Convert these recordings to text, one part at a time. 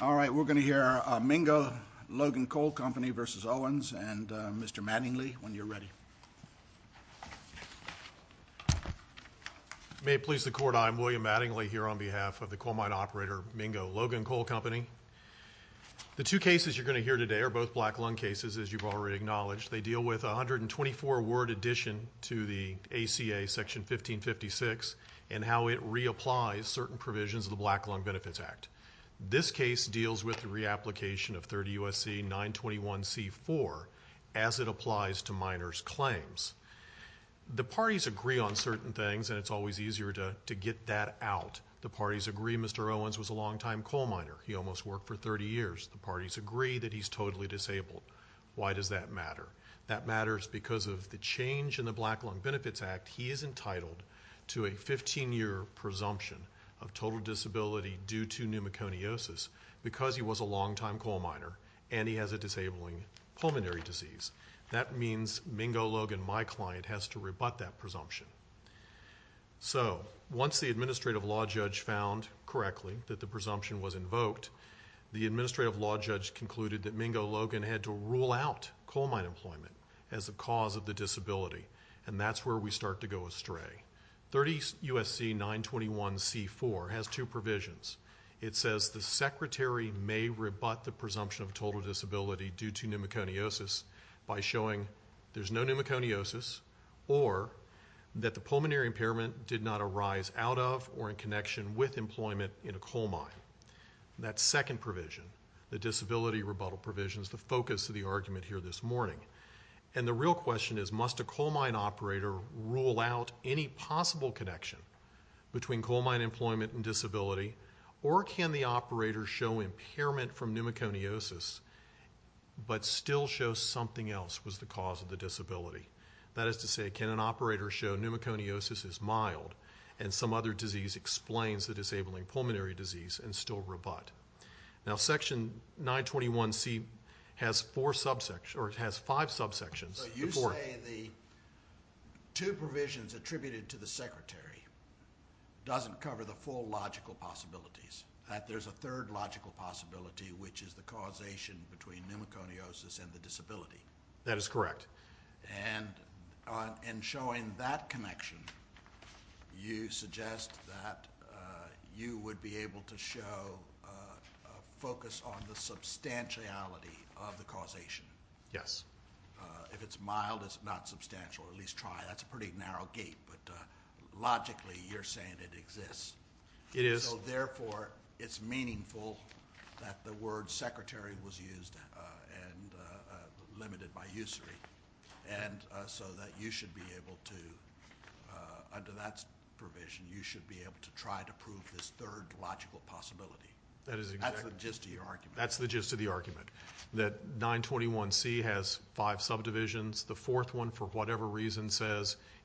All right, we're going to hear Mingo Logan Coal Company v. Owens and Mr. Mattingly when you're ready. May it please the court, I'm William Mattingly here on behalf of the coal mine operator Mingo Logan Coal Company. The two cases you're going to hear today are both black lung cases as you've already acknowledged. They deal with 124 word addition to the ACA section 1556 and how it reapplies certain provisions of the Black Lung Benefits Act. This case deals with the reapplication of 30 USC 921 c4 as it applies to miners claims. The parties agree on certain things and it's always easier to to get that out. The parties agree Mr. Owens was a longtime coal miner. He almost worked for 30 years. The parties agree that he's totally disabled. Why does that matter? That matters because of the change in the Black Lung Benefits Act. He is entitled to a 15-year presumption of disability due to pneumoconiosis because he was a longtime coal miner and he has a disabling pulmonary disease. That means Mingo Logan, my client, has to rebut that presumption. So once the administrative law judge found correctly that the presumption was invoked, the administrative law judge concluded that Mingo Logan had to rule out coal mine employment as the cause of the two provisions. It says the secretary may rebut the presumption of total disability due to pneumoconiosis by showing there's no pneumoconiosis or that the pulmonary impairment did not arise out of or in connection with employment in a coal mine. That second provision, the disability rebuttal provisions, the focus of the argument here this morning. And the real question is must a coal mine operator rule out any possible connection between coal mine employment and disability or can the operator show impairment from pneumoconiosis but still show something else was the cause of the disability? That is to say, can an operator show pneumoconiosis is mild and some other disease explains the disabling pulmonary disease and still rebut? Now section 921C has four subsections or it has five subsections. You say the two provisions attributed to the secretary doesn't cover the full logical possibilities. That there's a third logical possibility which is the causation between pneumoconiosis and the disability. That is correct. And in showing that connection you suggest that you would be able to show focus on the substantiality of the causation. Yes. If it's mild it's not substantial, at least try. That's a pretty narrow gate but logically you're saying it exists. It is. So therefore it's meaningful that the word secretary was used and limited by usury and so that you should be able to, under that provision, you should be able to try to prove this third logical possibility. That is just your argument. That's the gist of the argument. That 921C has five subdivisions. The fourth one for example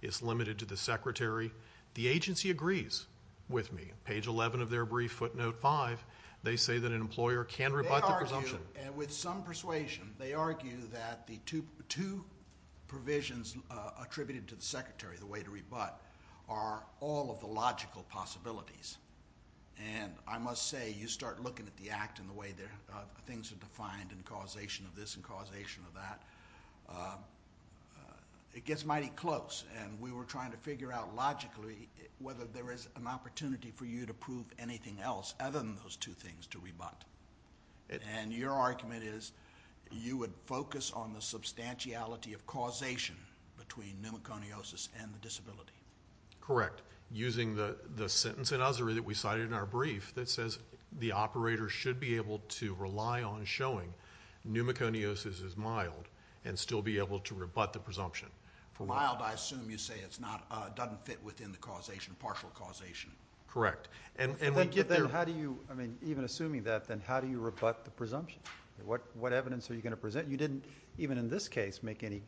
is limited to the secretary. The agency agrees with me. Page 11 of their brief footnote 5, they say that an employer can rebut the presumption. With some persuasion they argue that the two provisions attributed to the secretary, the way to rebut, are all of the logical possibilities. And I must say you start looking at the act in the way that things are defined and causation of this and causation of that. It gets mighty close and we were trying to figure out logically whether there is an opportunity for you to prove anything else other than those two things to rebut. And your argument is you would focus on the substantiality of causation between pneumoconiosis and the disability. Correct. Using the the sentence in usury that we cited in our case that pneumoconiosis is mild and still be able to rebut the presumption. For mild I assume you say it's not doesn't fit within the causation, partial causation. Correct. And then how do you I mean even assuming that then how do you rebut the presumption? What what evidence are you going to present? You didn't even in this case make any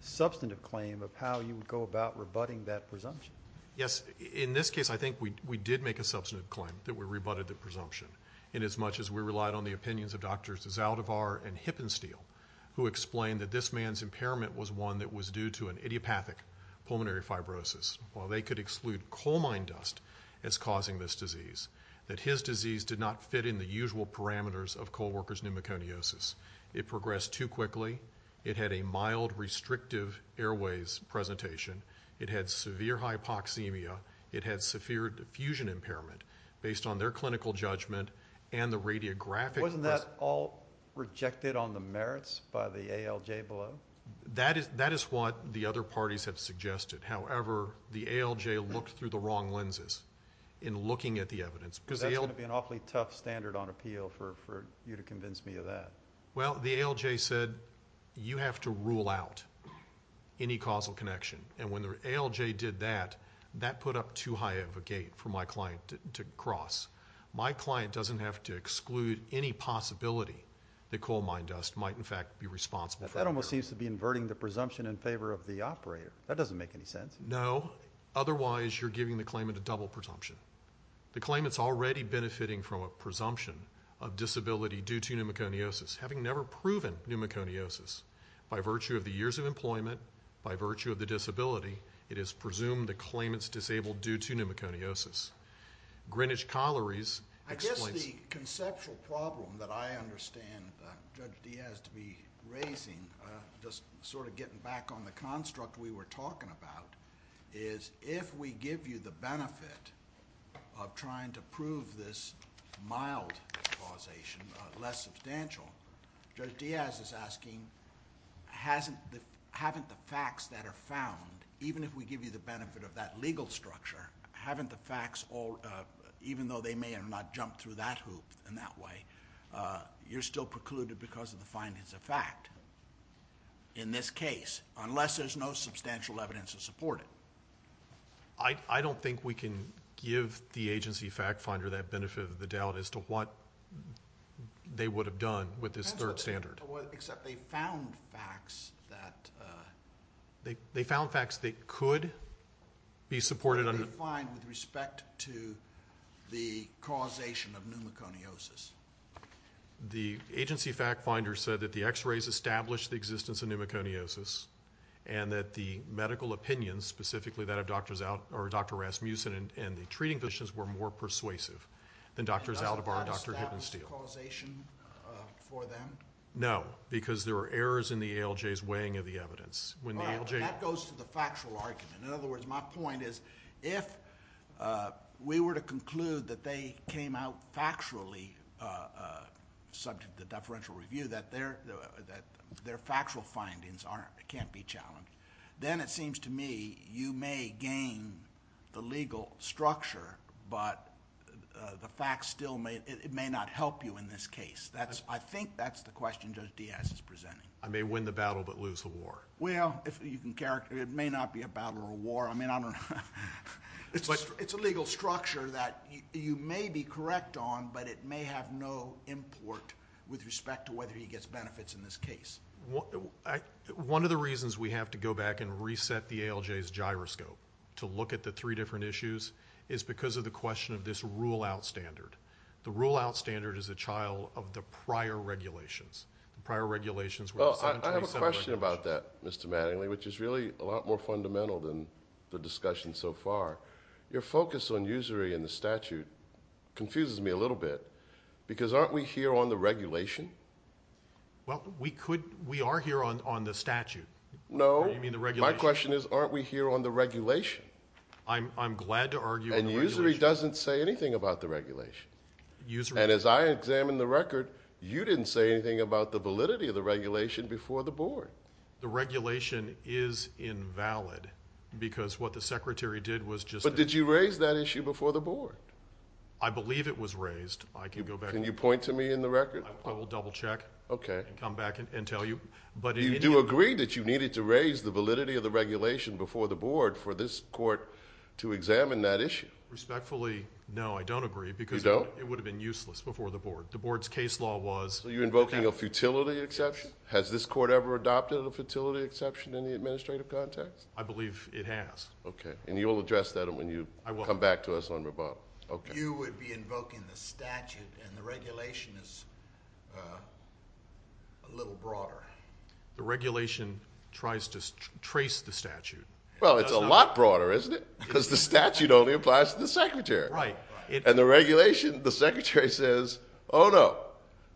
substantive claim of how you would go about rebutting that presumption. Yes in this case I think we did make a substantive claim that we rebutted the presumption. And as much as we relied on the opinions of doctors Zaldivar and Hippensteel who explained that this man's impairment was one that was due to an idiopathic pulmonary fibrosis. While they could exclude coal mine dust as causing this disease. That his disease did not fit in the usual parameters of co-workers pneumoconiosis. It progressed too quickly. It had a mild restrictive airways presentation. It had severe hypoxemia. It had severe diffusion impairment based on their clinical judgment and the radiographic. Wasn't that all rejected on the merits by the ALJ below? That is that is what the other parties have suggested. However the ALJ looked through the wrong lenses in looking at the evidence. Because they'll be an awfully tough standard on appeal for you to convince me of that. Well the ALJ said you have to rule out any causal connection. And when the ALJ did that that put up too high of a gate for my client doesn't have to exclude any possibility the coal mine dust might in fact be responsible. That almost seems to be inverting the presumption in favor of the operator. That doesn't make any sense. No otherwise you're giving the claimant a double presumption. The claimants already benefiting from a presumption of disability due to pneumoconiosis. Having never proven pneumoconiosis. By virtue of the years of employment. By virtue of the disability. It is presumed the claimants disabled due to pneumoconiosis. Greenwich Colliery's... I guess the conceptual problem that I understand Judge Diaz to be raising. Just sort of getting back on the construct we were talking about. Is if we give you the benefit of trying to prove this mild causation less substantial. Judge Diaz is asking haven't the facts that are found even if we give you the benefit of that legal structure. Haven't the facts even though they may or may not jump through that hoop in that way. You're still precluded because of the findings of fact in this case. Unless there's no substantial evidence to support it. I don't think we can give the agency fact finder that benefit of the doubt as to what they would have done with this third standard. Except they found facts that... They found facts that could be supported... With respect to the causation of pneumoconiosis. The agency fact finder said that the x-rays established the existence of pneumoconiosis. And that the medical opinions specifically that of doctors out or Dr. Rasmussen and the treating physicians were more persuasive than doctors out of our Dr. Hindensteel. Is that a causation for them? No. Because there are errors in the ALJ's weighing of the evidence. That goes to the factual argument. In other words, my point is if we were to conclude that they came out factually subject to deferential review that their factual findings can't be challenged. Then it seems to me you may gain the legal structure but the facts still may... It may not help you in this case. I think that's the question Judge Diaz is presenting. I may win the battle but lose the war. Well, it may not be a battle or a war. I mean, I don't know. It's a legal structure that you may be correct on but it may have no import with respect to whether he gets benefits in this case. One of the reasons we have to go back and reset the ALJ's gyroscope to look at the three different issues is because of the question of this rule-out standard. The rule-out standard is a child of the prior regulations. I have a question about that, Mr. Mattingly, which is really a lot more fundamental than the discussion so far. Your focus on usury in the statute confuses me a little bit because aren't we here on the regulation? Well, we are here on the statute. No, my question is aren't we here on the regulation? I'm glad to argue... Usury doesn't say anything about the regulation. As I examined the record, you didn't say anything about the validity of the regulation before the board. The regulation is invalid because what the Secretary did was just... But did you raise that issue before the board? I believe it was raised. I can go back... Can you point to me in the record? I will double-check and come back and tell you. You do agree that you needed to raise the validity of the regulation before the board for this court to examine that issue? Respectfully, no, I don't agree because it would have been useless before the board. The board's case law was... Are you invoking a futility exception? Has this court ever adopted a futility exception in the administrative context? I believe it has. Okay. You will address that when you come back to us on rebuttal. You would be invoking the statute and the regulation is a little broader. The regulation tries to trace the statute. Well, it's a lot broader, isn't it? Because the statute only applies to the Secretary. Right. And the regulation, the Secretary says, oh no,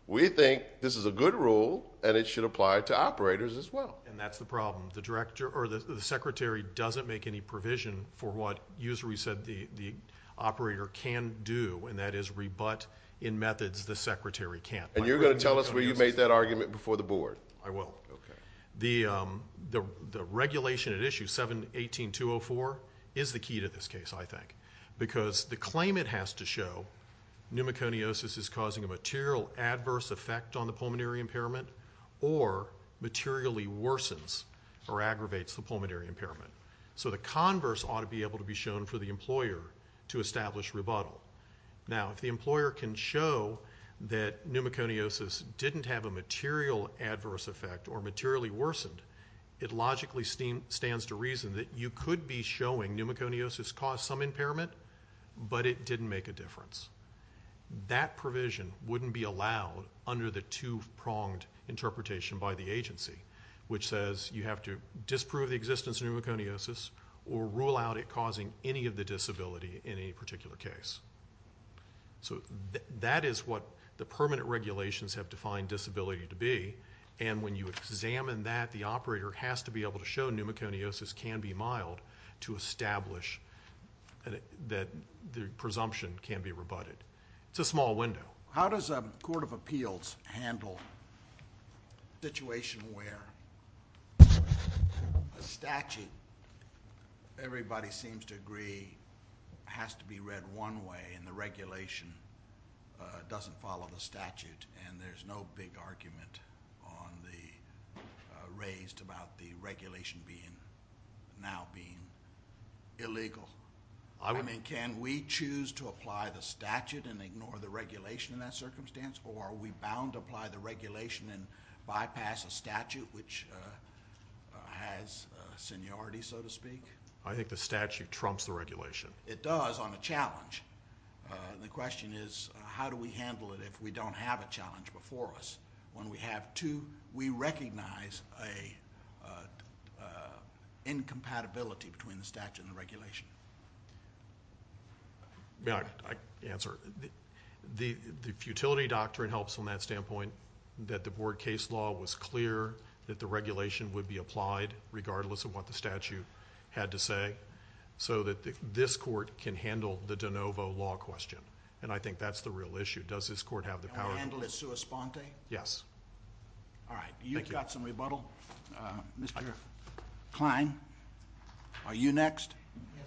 we think this is a good rule and it should apply to operators as well. And that's the problem. The Secretary doesn't make any provision for what usually said the operator can do and that is rebut in methods the Secretary can't. And you're going to tell us where you made that argument before the board? I will. Okay. The regulation at issue 718.204 is the key to this case, I think, because the claimant has to show pneumoconiosis is causing a material adverse effect on the pulmonary impairment or materially worsens or aggravates the pulmonary impairment. So the converse ought to be able to be shown for the employer to establish rebuttal. Now, if the employer can show that pneumoconiosis didn't have a material adverse effect or materially worsened, it logically stands to reason that you could be showing pneumoconiosis caused some impairment, but it didn't make a difference. That provision wouldn't be allowed under the two-pronged interpretation by the agency, which says you have to disprove the existence of pneumoconiosis or rule out it causing any of the disability in any particular case. So that is what the permanent regulations have defined disability to be. And when you examine that, the operator has to be able to show pneumoconiosis can be mild to establish that the presumption can be rebutted. It's a small window. How does a court of appeals handle a situation where a statute everybody seems to agree has to be read one way and the regulation doesn't follow the statute and there's no big argument raised about the regulation now being illegal? I mean, can we choose to apply the statute and ignore the regulation in that circumstance or are we bound to apply the regulation and bypass a statute which has seniority, so to speak? I think the statute trumps the regulation. It does on a challenge. The question is how do we handle it if we don't have a challenge before us when we have two, we recognize an incompatibility between the statute and regulation? I can answer. The futility doctrine helps on that standpoint that the board case law was clear that the regulation would be applied regardless of what the statute had to say so that this court can handle the de novo law question. And I think that's the real issue. Does this court have the power? Does this court have the power to handle it sua sponte? Yes. All right. Thank you. You've got some rebuttal. Mr. Kline, are you next? Yes.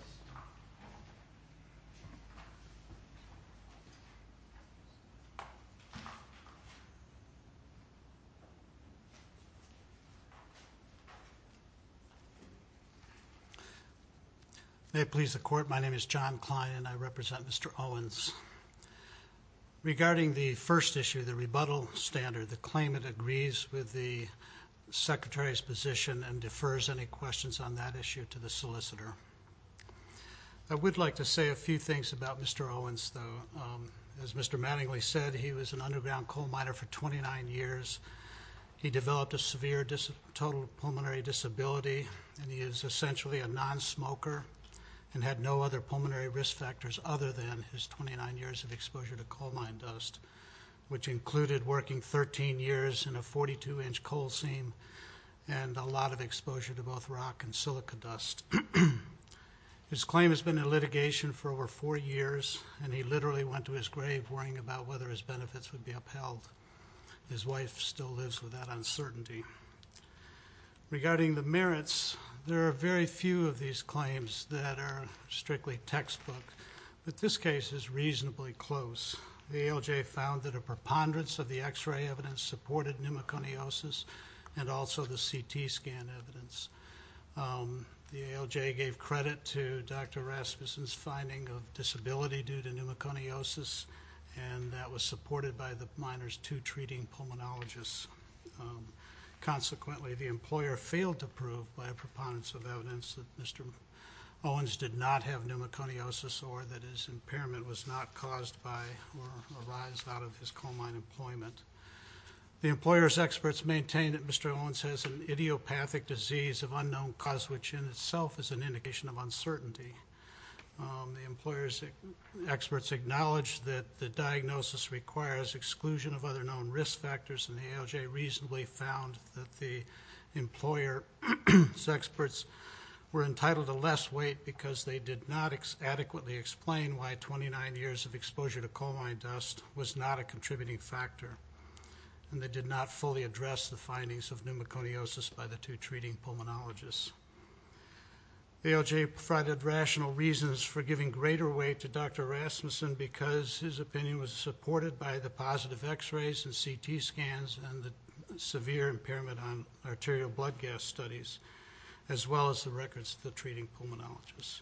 May it please the Court, my name is John Kline and I represent Mr. Owens. Regarding the first issue, the rebuttal standard, the claimant agrees with the secretary's position and defers any questions on that issue to the solicitor. I would like to say a few things about Mr. Owens, though. As Mr. Mattingly said, he was an underground coal miner for 29 years. He developed a severe total pulmonary disability and he is essentially a nonsmoker and had no other pulmonary risk factors other than his 29 years of exposure to coal mine dust, which included working 13 years in a 42-inch coal seam and a lot of exposure to both rock and silica dust. His claim has been in litigation for over four years and he literally went to his grave worrying about whether his benefits would be upheld. His wife still lives with that uncertainty. Regarding the merits, there are very few of these claims that are strictly textbook, but this case is reasonably close. The ALJ found that a preponderance of the X-ray evidence supported pneumoconiosis and also the CT scan evidence. The ALJ gave credit to Dr. Rasmussen's finding of disability due to pneumoconiosis and that was supported by the miner's two treating pulmonologists. Consequently, the employer failed to prove by a preponderance of evidence that Mr. Owens did not have pneumoconiosis or that his impairment was not caused by or arised out of his coal mine employment. The employer's experts maintain that Mr. Owens has an idiopathic disease of unknown cause, which in itself is an indication of uncertainty. The employer's experts acknowledge that the diagnosis requires exclusion of other known risk factors and the ALJ reasonably found that the employer's experts were entitled to less weight because they did not adequately explain why 29 years of exposure to coal mine dust was not a contributing factor and they did not fully address the findings of pneumoconiosis by the two treating pulmonologists. The ALJ provided rational reasons for giving greater weight to Dr. Rasmussen because his opinion was supported by the positive X-rays and CT scans and the severe impairment on arterial blood gas studies as well as the records of the treating pulmonologists.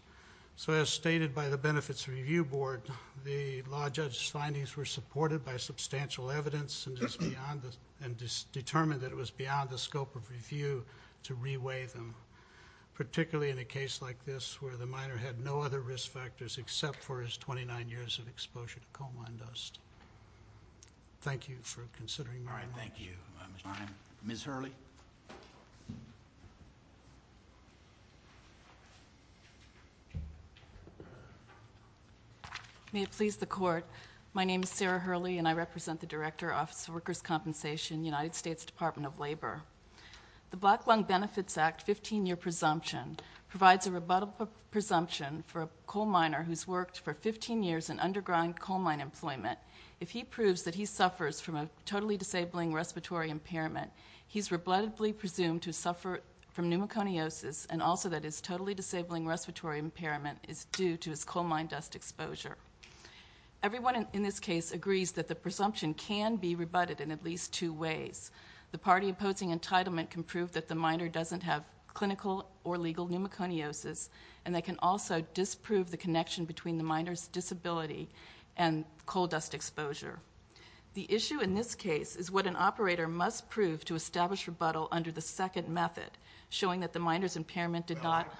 So as stated by the Benefits Review Board, the law judge's findings were supported by substantial evidence and determined that it was beyond the scope of review to re-weigh them, particularly in a case like this where the miner had no other risk factors except for his 29 years of exposure to coal mine dust. Thank you for considering my motion. All right, thank you. Ms. Hurley? May it please the Court, my name is Sarah Hurley and I represent the Director, Office of Workers' Compensation, United States Department of Labor. The Black Lung Benefits Act 15-year presumption provides a rebuttable presumption for a coal miner who's worked for 15 years in underground coal mine employment. If he proves that he suffers from a totally disabling respiratory impairment, he's rebuttably presumed to suffer from pneumoconiosis and also that his totally disabling respiratory impairment is due to his coal mine dust exposure. Everyone in this case agrees that the presumption can be rebutted in at least two ways. The party imposing entitlement can prove that the miner doesn't have clinical or legal pneumoconiosis and they can also disprove the connection between the miner's disability and coal dust exposure. The issue in this case is what an operator must prove to establish rebuttal under the second method, showing that the miner's impairment did not... was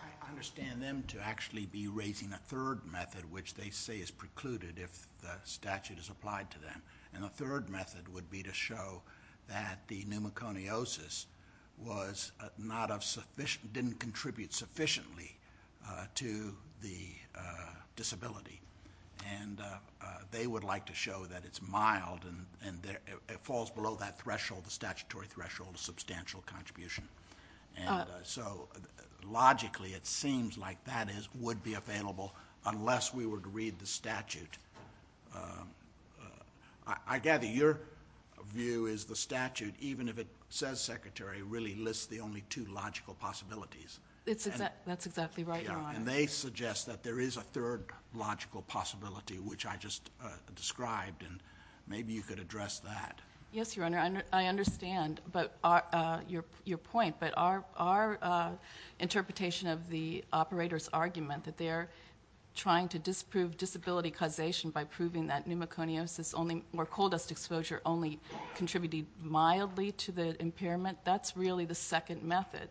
precluded if the statute is applied to them. And the third method would be to show that the pneumoconiosis was not of sufficient... didn't contribute sufficiently to the disability. And they would like to show that it's mild and it falls below that threshold, the statutory threshold of substantial contribution. And so logically it seems like that would be available unless we were to read the statute. I gather your view is the statute, even if it says secretary, really lists the only two logical possibilities. That's exactly right, Your Honor. And they suggest that there is a third logical possibility, which I just described and maybe you could address that. Yes, Your Honor, I understand your point. But our interpretation of the operator's argument that they're trying to disprove disability causation by proving that pneumoconiosis only... where coal dust exposure only contributed mildly to the impairment, that's really the second method.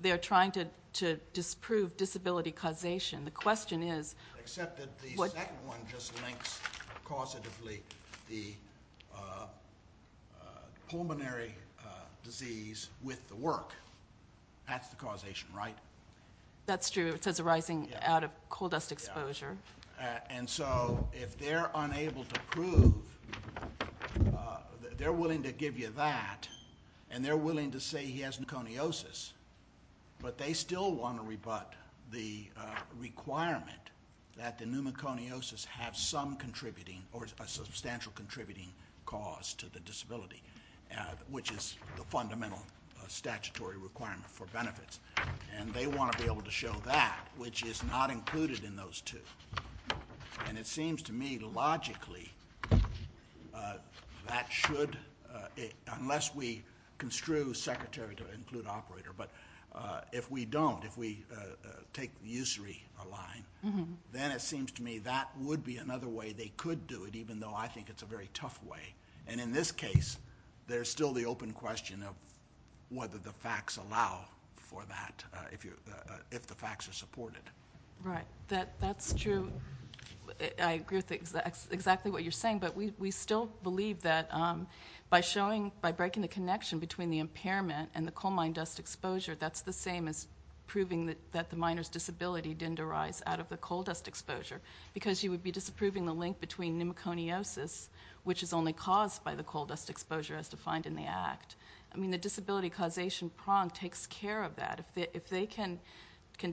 They're trying to disprove disability causation. The question is... pulmonary disease with the work, that's the causation, right? That's true. It says arising out of coal dust exposure. And so if they're unable to prove, they're willing to give you that and they're willing to say he has pneumoconiosis, but they still want to rebut the requirement that the pneumoconiosis have some contributing or a substantial contributing cause to the disability, which is the fundamental statutory requirement for benefits. And they want to be able to show that, which is not included in those two. And it seems to me logically that should... unless we construe secretary to include operator, but if we don't, if we take the usury align, then it seems to me that would be another way they could do it, even though I think it's a very tough way. And in this case, there's still the open question of whether the facts allow for that, if the facts are supported. Right. That's true. I agree with exactly what you're saying, but we still believe that by breaking the connection between the impairment and the coal mine dust exposure, that's the same as proving that the miner's disability didn't arise out of the coal dust exposure, because you would be disproving the link between pneumoconiosis, which is only caused by the coal dust exposure as defined in the act. I mean, the disability causation prong takes care of that. If they can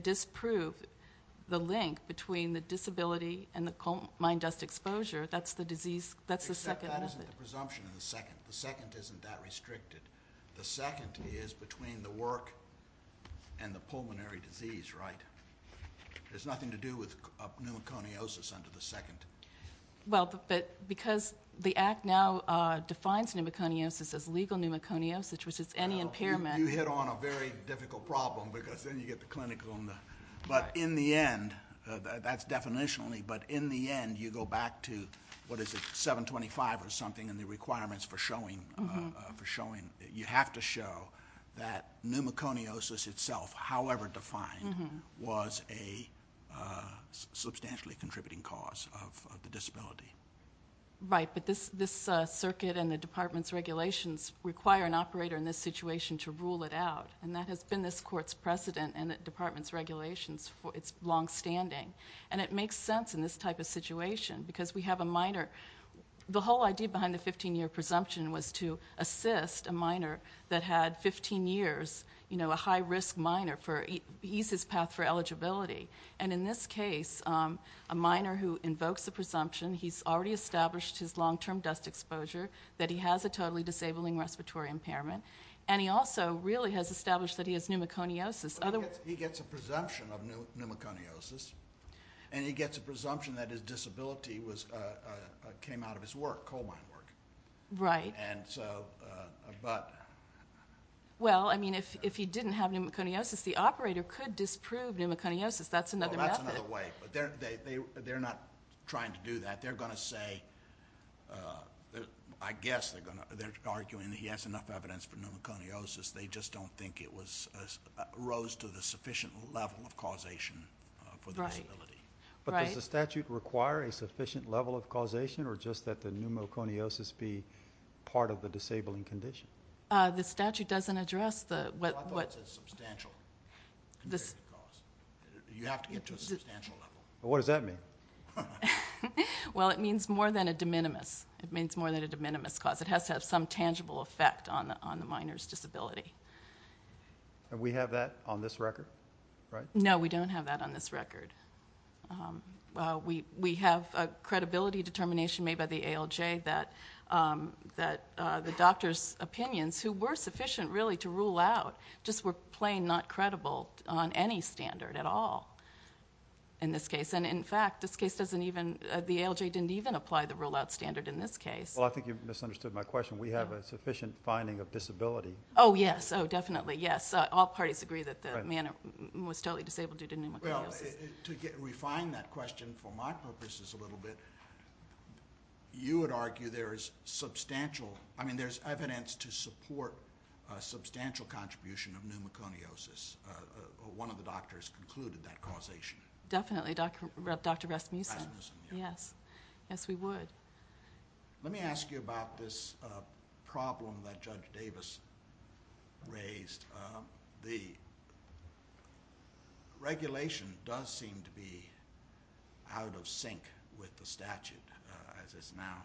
disprove the link between the disability and the coal mine dust exposure, that's the second method. Except that isn't the presumption of the second. The second isn't that restricted. The second is between the work and the pulmonary disease, right? It has nothing to do with pneumoconiosis under the second. Well, but because the act now defines pneumoconiosis as legal pneumoconiosis, which is any impairment. You hit on a very difficult problem, because then you get the clinical. But in the end, that's definitionally, but in the end, you go back to, what is it, 725 or something, and the requirements for showing that you have to show that pneumoconiosis itself, however defined, was a substantially contributing cause of the disability. Right, but this circuit and the department's regulations require an operator in this situation to rule it out, and that has been this court's precedent and the department's regulations for its longstanding. And it makes sense in this type of situation, because we have a minor. The whole idea behind the 15-year presumption was to assist a minor that had 15 years, you know, a high-risk minor, to ease his path for eligibility. And in this case, a minor who invokes a presumption, he's already established his long-term dust exposure, that he has a totally disabling respiratory impairment, and he also really has established that he has pneumoconiosis. He gets a presumption of pneumoconiosis, and he gets a presumption that his disability came out of his work, coal mine work. Right. And so, but... Well, I mean, if he didn't have pneumoconiosis, the operator could disprove pneumoconiosis. That's another method. Well, that's another way, but they're not trying to do that. They're going to say, I guess they're arguing that he has enough evidence for pneumoconiosis. They just don't think it rose to the sufficient level of causation for the disability. Right. But does the statute require a sufficient level of causation, or just that the pneumoconiosis be part of the disabling condition? The statute doesn't address the... Well, I thought it said substantial. You have to get to a substantial level. What does that mean? Well, it means more than a de minimis. It means more than a de minimis cause. It has to have some tangible effect on the minor's disability. And we have that on this record, right? No, we don't have that on this record. We have a credibility determination made by the ALJ that the doctor's opinions, who were sufficient, really, to rule out, just were plain not credible on any standard at all in this case. And, in fact, this case doesn't even... The ALJ didn't even apply the rule-out standard in this case. Well, I think you misunderstood my question. We have a sufficient finding of disability. Oh, yes. Oh, definitely, yes. All parties agree that the man was totally disabled due to pneumoconiosis. Well, to refine that question for my purposes a little bit, you would argue there is substantial... I mean, there's evidence to support a substantial contribution of pneumoconiosis. One of the doctors concluded that causation. Definitely, Dr. Rasmussen. Rasmussen, yeah. Yes. Yes, we would. Let me ask you about this problem that Judge Davis raised. The regulation does seem to be out of sync with the statute, as is now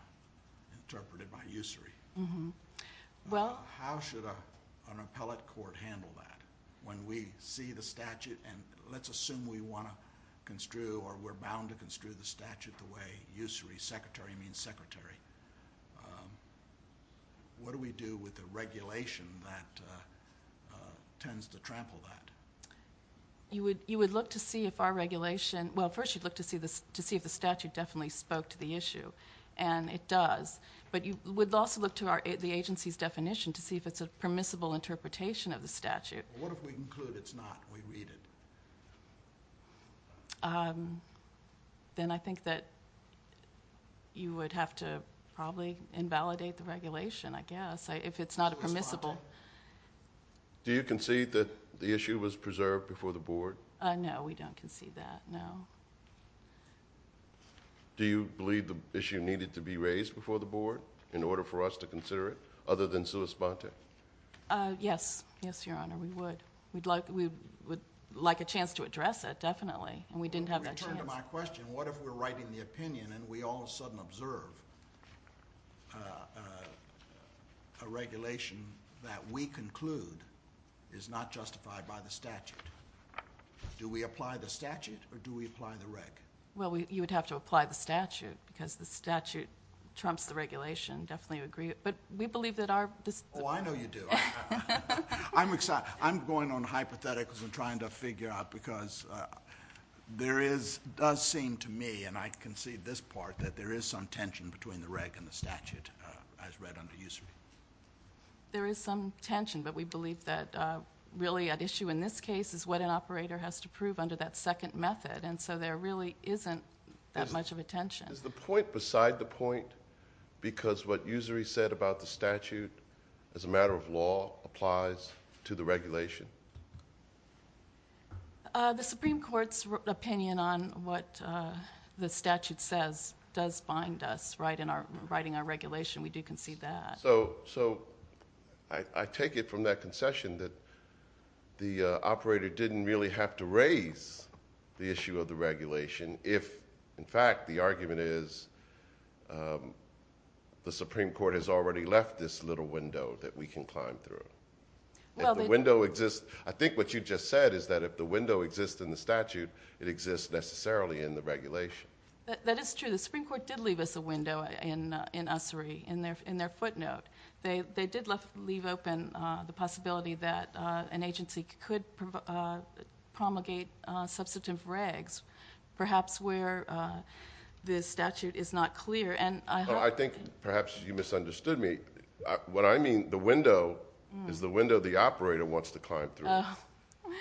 interpreted by usury. How should an appellate court handle that when we see the statute and let's assume we want to construe or we're bound to construe the statute the way usury, secretary, means secretary. What do we do with the regulation that tends to trample that? You would look to see if our regulation... Well, first you'd look to see if the statute definitely spoke to the issue, and it does. But you would also look to the agency's definition to see if it's a permissible interpretation of the statute. What if we conclude it's not, we read it? Then I think that you would have to probably invalidate the regulation, I guess, if it's not permissible. Do you concede that the issue was preserved before the board? No, we don't concede that, no. Do you believe the issue needed to be raised before the board in order for us to consider it, other than sui sponte? Yes. Yes, Your Honor, we would. We would like a chance to address it, definitely, and we didn't have that chance. To return to my question, what if we're writing the opinion and we all of a sudden observe a regulation that we conclude is not justified by the statute? Do we apply the statute or do we apply the reg? Well, you would have to apply the statute because the statute trumps the regulation, definitely agree. But we believe that our... Oh, I know you do. I'm going on hypotheticals and trying to figure out because there does seem to me, and I concede this part, that there is some tension between the reg and the statute as read under usury. There is some tension, but we believe that really at issue in this case is what an operator has to prove under that second method, and so there really isn't that much of a tension. Is the point beside the point because what usury said about the statute as a matter of law applies to the regulation? The Supreme Court's opinion on what the statute says does bind us, right, in writing our regulation. We do concede that. So I take it from that concession that the operator didn't really have to raise the issue of the regulation if, in fact, the argument is the Supreme Court has already left this little window that we can climb through. If the window exists... I think what you just said is that if the window exists in the statute, it exists necessarily in the regulation. That is true. The Supreme Court did leave us a window in usury in their footnote. They did leave open the possibility that an agency could promulgate substantive regs, perhaps where the statute is not clear. I think perhaps you misunderstood me. What I mean, the window is the window the operator wants to climb through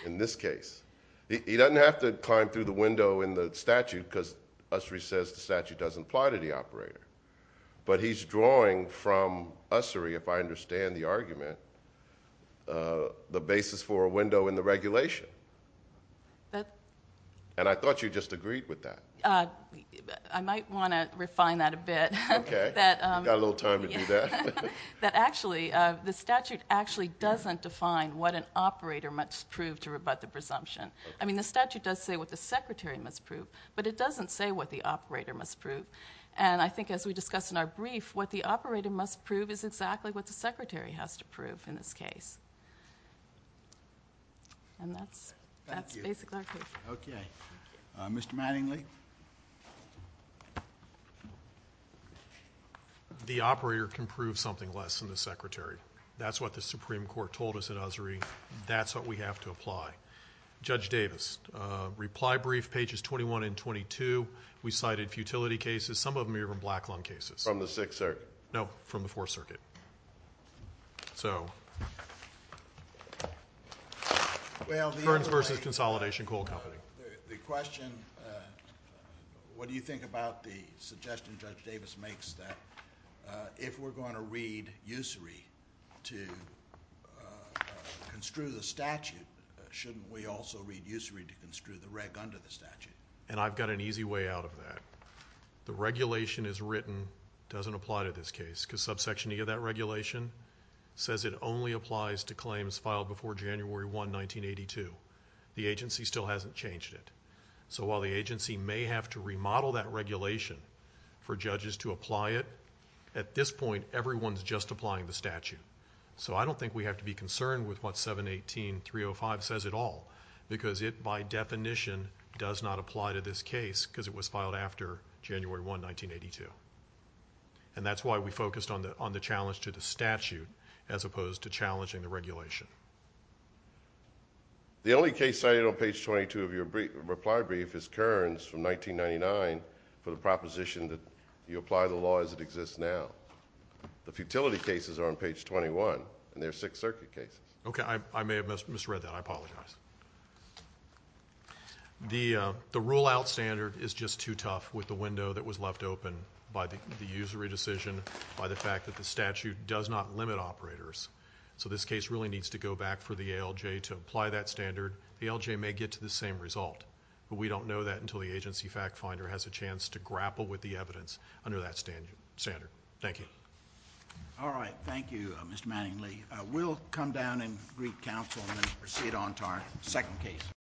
in this case. He doesn't have to climb through the window in the statute because usury says the statute doesn't apply to the operator. But he's drawing from usury, if I understand the argument, the basis for a window in the regulation. I thought you just agreed with that. I might want to refine that a bit. Okay. You've got a little time to do that. Actually, the statute actually doesn't define what an operator must prove to rebut the presumption. The statute does say what the secretary must prove, but it doesn't say what the operator must prove. I think, as we discussed in our brief, what the operator must prove is exactly what the secretary has to prove in this case. And that's basically our case. Okay. Mr. Mattingly? The operator can prove something less than the secretary. That's what the Supreme Court told us in usury. That's what we have to apply. Judge Davis, reply brief, pages 21 and 22. We cited futility cases. Some of them are even black-lung cases. From the Sixth Circuit? No, from the Fourth Circuit. So, Kearns v. Consolidation Coal Company. The question, what do you think about the suggestion Judge Davis makes that if we're going to read usury to construe the statute, shouldn't we also read usury to construe the reg under the statute? And I've got an easy way out of that. The regulation as written doesn't apply to this case because subsection E of that regulation says it only applies to claims filed before January 1, 1982. The agency still hasn't changed it. So while the agency may have to remodel that regulation for judges to apply it, at this point everyone's just applying the statute. So I don't think we have to be concerned with what 718.305 says at all because it, by definition, does not apply to this case because it was filed after January 1, 1982. And that's why we focused on the challenge to the statute as opposed to challenging the regulation. The only case cited on page 22 of your reply brief is Kearns from 1999 for the proposition that you apply the law as it exists now. The futility cases are on page 21, and they're Sixth Circuit cases. Okay, I may have misread that. I apologize. The rule-out standard is just too tough with the window that was left open by the usury decision, by the fact that the statute does not limit operators. So this case really needs to go back for the ALJ to apply that standard. The ALJ may get to the same result, but we don't know that until the agency fact finder has a chance to grapple with the evidence under that standard. Thank you. All right, thank you, Mr. Manningly. We'll come down and greet counsel and then proceed on to our second case.